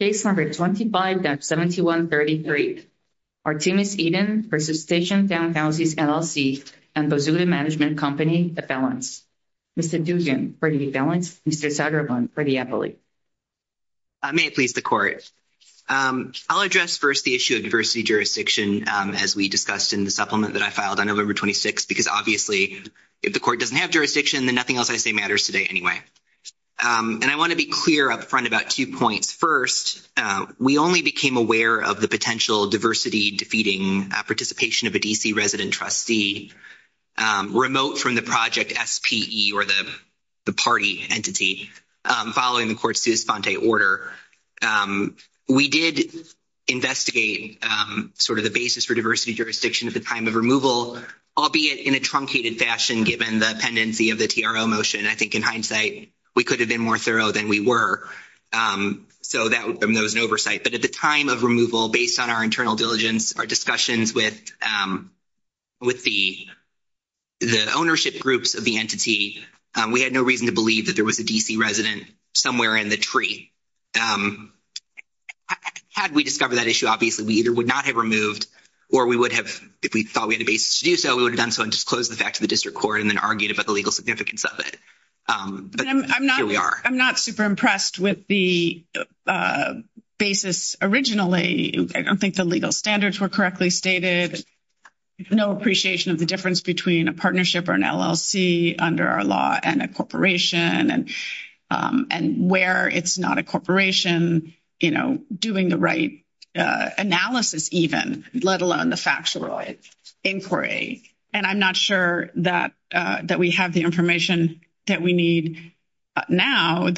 Case number 25-7133. Artemus Eden v. Station Townhouses LLC and Bozulia Management Company, the felons. Mr. Duvian, for the felons. Mr. Zagreban, for the appellate. May it please the court. I'll address first the issue of diversity jurisdiction as we discussed in the supplement that I filed on November 26 because obviously if the court doesn't have jurisdiction then nothing else I say matters today anyway. And I want to be clear upfront about two points. First, we only became aware of the potential diversity-defeating participation of a D.C. resident trustee remote from the project S.P.E. or the party entity following the court's Sus Fonte order. We did investigate sort of the basis for diversity jurisdiction at the time of removal, albeit in a truncated fashion given the pendency of the court. So that was an oversight. But at the time of removal, based on our internal diligence, our discussions with the ownership groups of the entity, we had no reason to believe that there was a D.C. resident somewhere in the tree. Had we discovered that issue, obviously we either would not have removed or we would have, if we thought we had a basis to do so, we would have done so and disclosed the fact to the district court and then argued about the legal significance of it. But here we are. I'm not super impressed with the basis originally. I don't think the legal standards were correctly stated. No appreciation of the difference between a partnership or an LLC under our law and a corporation and where it's not a corporation, you know, doing the right analysis even, let alone the factual inquiry. And I'm not sure that we have the information that we need now.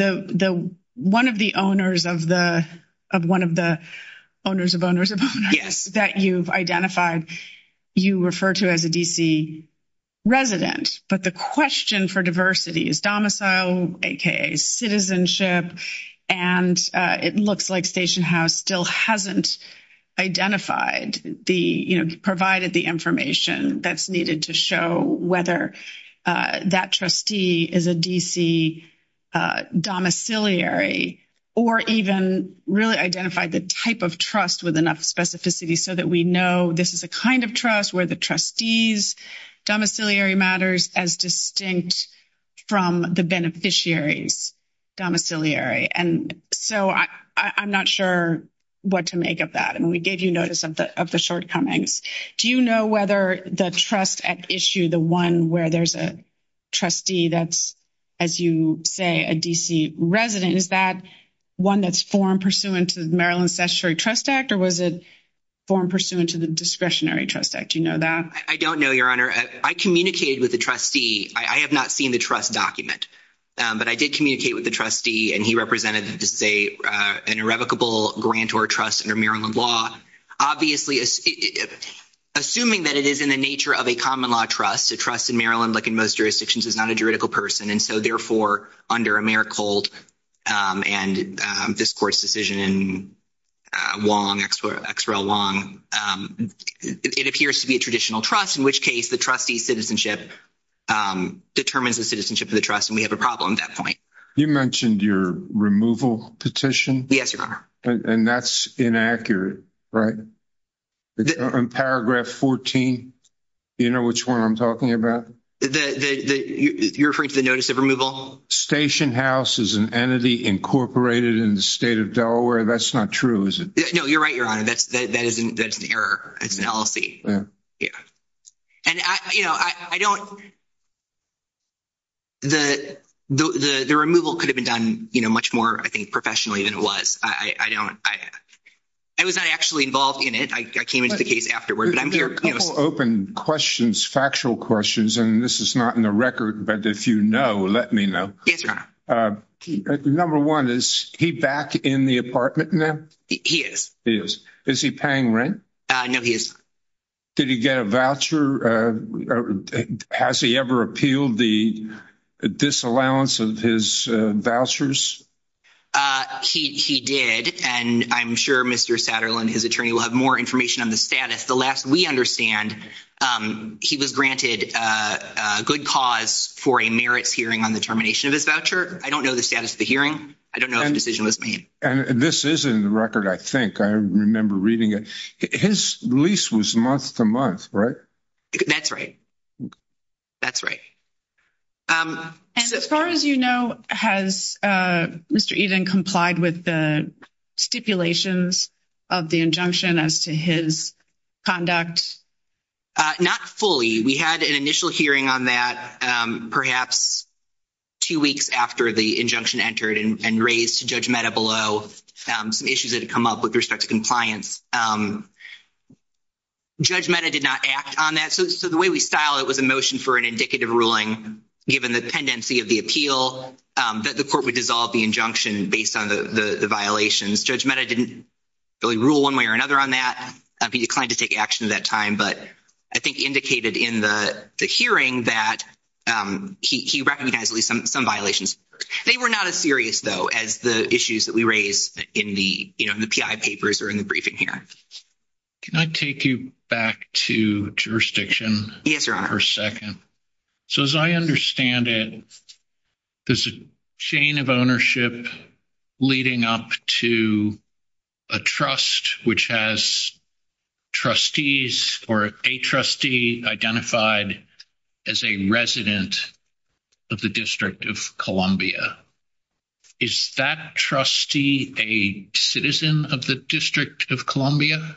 One of the owners of one of the owners of owners of owners that you've identified, you refer to as a D.C. resident. But the question for diversity is domicile, aka citizenship, and it looks like Station House still hasn't identified the, you know, provided the information that's needed to show whether that trustee is a D.C. domiciliary or even really identified the type of trust with enough specificity so that we know this is a kind of trust where the trustee's domiciliary matters as distinct from the beneficiary's domiciliary. And so I'm not sure what to make of that. And we gave you notice of the shortcomings. Do you know whether the trust at issue, the one where there's a trustee that's, as you say, a D.C. resident, is that one that's form pursuant to the Maryland Statutory Trust Act or was it form pursuant to the Discretionary Trust Act? Do you know that? I don't know, Your Honor. I communicated with the trustee. I have not seen the trust document, but I did communicate with the trustee, and he represented, let's say, an irrevocable grant or trust under Maryland law. Obviously, assuming that it is in the nature of a common law trust, a trust in Maryland, like in most jurisdictions, is not a juridical person, and so therefore under Americold and this court's decision in Wong, X. R. L. Wong, it appears to be a traditional trust, in which case the trustee's citizenship determines the citizenship of the trust, and we have a problem at that point. You mentioned your removal petition. Yes, Your Honor. And that's inaccurate, right? In paragraph 14, do you know which one I'm talking about? The, you're referring to the notice of removal? Station House is an entity incorporated in the state of Delaware. That's not true, is it? No, you're right, Your Honor. That's an error. It's an LLC. The removal could have been done much more, I think, professionally than it was. I was not actually involved in it. I came into the case afterward. There are a couple open questions, factual questions, and this is not in the record, but if you know, let me know. Yes, Your Honor. Number one, is he back in the apartment now? He is. He is. Is he paying rent? No, he is not. Did he get a voucher? Has he ever appealed the disallowance of his vouchers? He did, and I'm sure Mr. Satterlund, his attorney, will have more information on the status. We understand he was granted a good cause for a merits hearing on the termination of his voucher. I don't know the status of the hearing. I don't know if a decision was made. And this is in the record, I think. I remember reading it. His lease was month to month, right? That's right. That's right. And as far as you know, has Mr. Eden complied with the stipulations of the injunction as to his conduct? Not fully. We had an initial hearing on that perhaps two weeks after the injunction entered and raised to Judge Mehta below some issues that had come up with respect to compliance. Judge Mehta did not act on that. So the way we style it was a motion for an indicative ruling given the pendency of the appeal that the court would dissolve the injunction based on the violations. Judge Mehta didn't really rule one way or another on that. He declined to take action at that time, but I think indicated in the hearing that he recognized at least some violations. They were not as serious, though, as the issues that we raised in the PI papers or in the briefing here. Can I take you back to jurisdiction for a second? So as I understand it, there's a chain of ownership leading up to a trust which has trustees or a trustee identified as a resident of the District of Columbia. Is that trustee a citizen of the District of Columbia?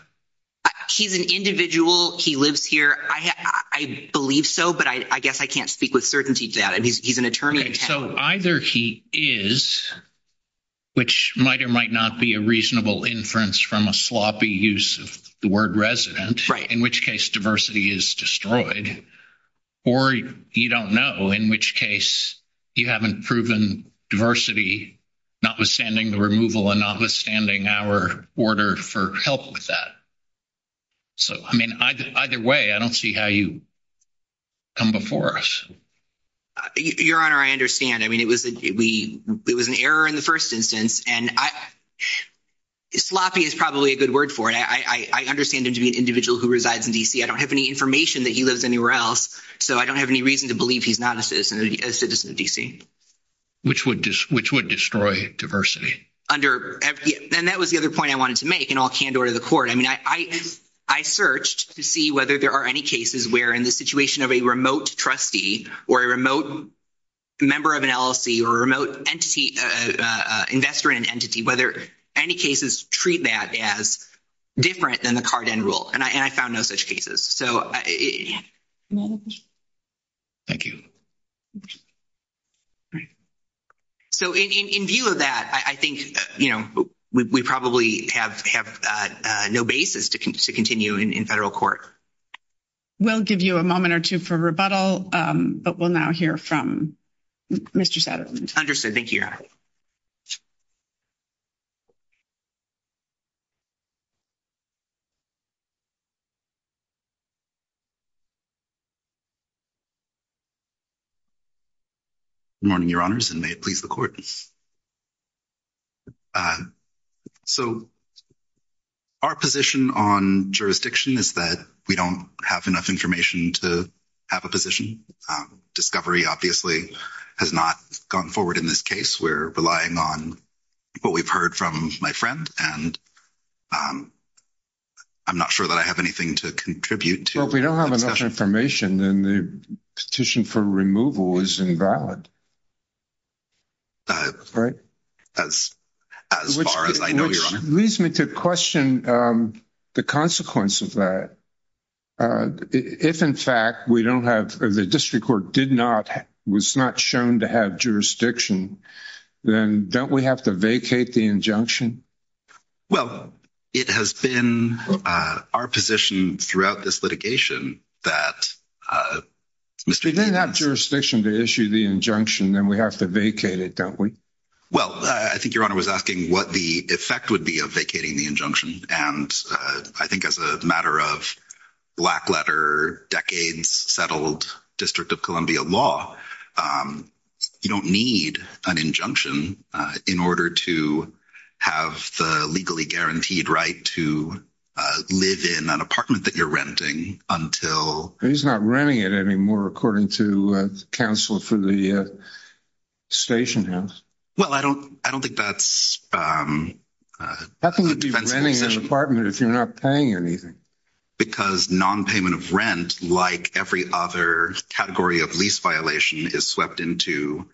He's an individual. He lives here. I believe so, but I guess I can't speak with certainty to that. He's an attorney. So either he is, which might or might not be a reasonable inference from a sloppy use of the word resident, in which case diversity is destroyed, or you don't know, in which case you haven't proven diversity, notwithstanding the removal and notwithstanding our order for help with that. So, I mean, either way, I don't see how you come before us. Your Honor, I understand. I mean, it was an error in the first instance, and sloppy is probably a good word for it. I understand him to be an individual who resides in D.C. I don't have any information that he lives anywhere else, so I don't have any reason to believe he's not a citizen of D.C. Which would destroy diversity. And that was the other point I wanted to make in all candor to the Court. I mean, I searched to see whether there are any cases where, in the situation of a remote trustee or a remote member of an LLC or a remote investor in an entity, whether any cases treat that as different than the Carden rule, and I found no such cases. Thank you. So in view of that, I think, you know, we probably have no basis to continue in federal court. We'll give you a moment or two for rebuttal, but we'll now hear from Mr. Satterlund. Understood. Thank you, Your Honor. Good morning, Your Honors, and may it please the Court. So our position on jurisdiction is that we don't have enough information to have a position. Discovery, obviously, has not gone forward in this case. We're relying on what we've heard from my friend, and I'm not sure that I have anything to contribute to the discussion. Well, if we don't have enough information, then the petition for removal is invalid. That's as far as I know, Your Honor. Which leads me to question the consequence of that. If, in fact, we don't have, the district court did not, was not shown to have jurisdiction, then don't we have to vacate the injunction? Well, it has been our position throughout this litigation that, Mr. Satterlund— Then we have to vacate it, don't we? Well, I think Your Honor was asking what the effect would be of vacating the injunction, and I think as a matter of black-letter, decades-settled District of Columbia law, you don't need an injunction in order to have the legally guaranteed right to live in an apartment that you're renting until— He's not renting it anymore, according to the counsel for the station house. Well, I don't think that's a defense position. How can you be renting an apartment if you're not paying anything? Because non-payment of rent, like every other category of lease violation, is swept into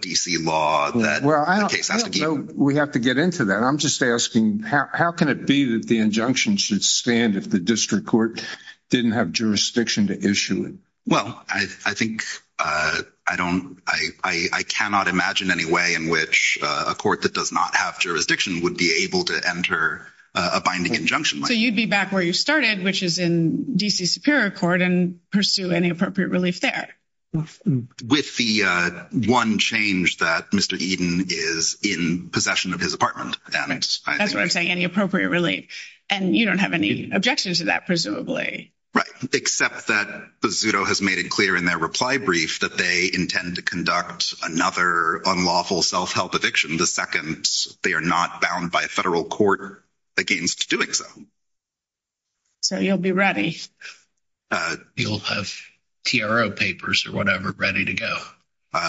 D.C. law. That case has to be— We have to get into that. I'm just asking, how can it be that the injunction should stand if the district court didn't have jurisdiction to issue it? Well, I think I don't—I cannot imagine any way in which a court that does not have jurisdiction would be able to enter a binding injunction. So you'd be back where you started, which is in D.C. Superior Court, and pursue any appropriate relief there? With the one change that Mr. Eden is in possession of his apartment. That's what I'm saying. Any appropriate relief. And you don't have any objections to that, presumably? Right. Except that Bazzuto has made it clear in their reply brief that they intend to conduct another unlawful self-help eviction the second they are not bound by a federal court against doing so. So you'll be ready. You'll have TRO papers or whatever ready to go.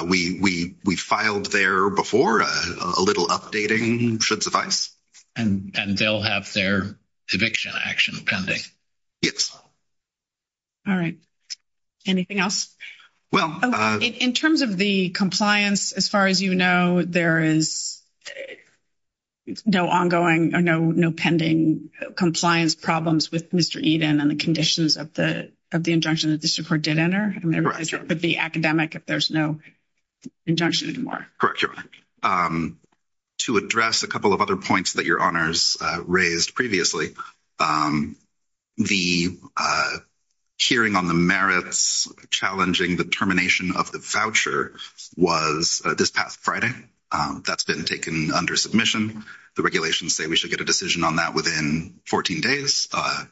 We filed there before. A little updating should suffice. And they'll have their eviction action pending? Yes. All right. Anything else? Well— In terms of the compliance, as far as you know, there is no ongoing or no pending compliance problems with Mr. Eden and the conditions of the injunction that the district did enter, with the academic, if there's no injunction anymore. Correct, Your Honor. To address a couple of other points that Your Honors raised previously, the hearing on the merits challenging the termination of the voucher was this past Friday. That's been taken under submission. The regulations say we should get a decision on that within 14 days. I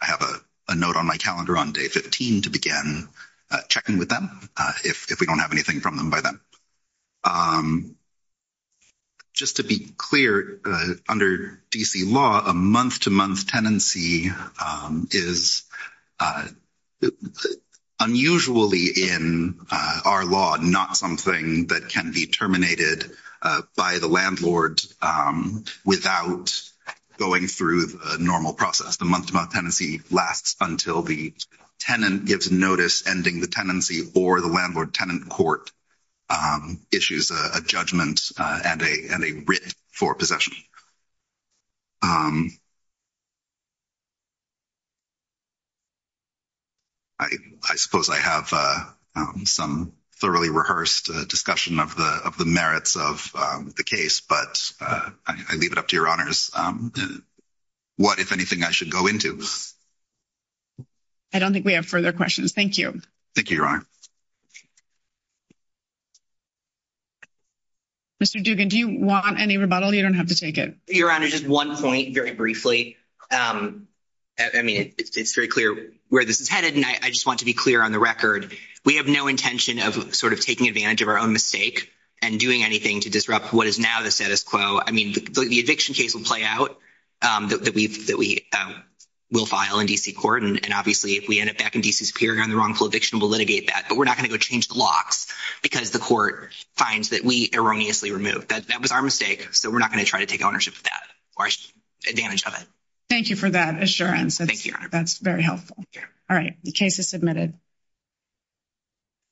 have a note on my calendar on day 15 to begin checking with them if we don't have anything from them by then. Just to be clear, under D.C. law, a month-to-month tenancy is unusually in our law not something that can be terminated by the landlord without going through the normal process. The month-to-month tenancy lasts until the tenant gives notice ending the tenancy or the landlord-tenant court issues a judgment and a writ for possession. I suppose I have some thoroughly rehearsed discussion of the merits of the case, but I leave it up to Your Honors what, if anything, I should go into. I don't think we have further questions. Thank you. Thank you, Your Honor. Mr. Dugan, do you want any rebuttal? You don't have to take it. Your Honor, just one point very briefly. I mean, it's very clear where this is headed, and I just want to be clear on the record. We have no intention of sort of taking advantage of our own mistake and doing anything to disrupt what is now the status quo. I mean, the eviction case will play out that we will file in D.C. court, and obviously, if we end up back in D.C. Superior on the wrongful eviction, we'll litigate that, but we're not going to go change the locks because the court finds that we erroneously removed. That was our mistake, so we're not going to try to take ownership of that or damage of it. Thank you for that assurance. That's very helpful. All right. The case is submitted.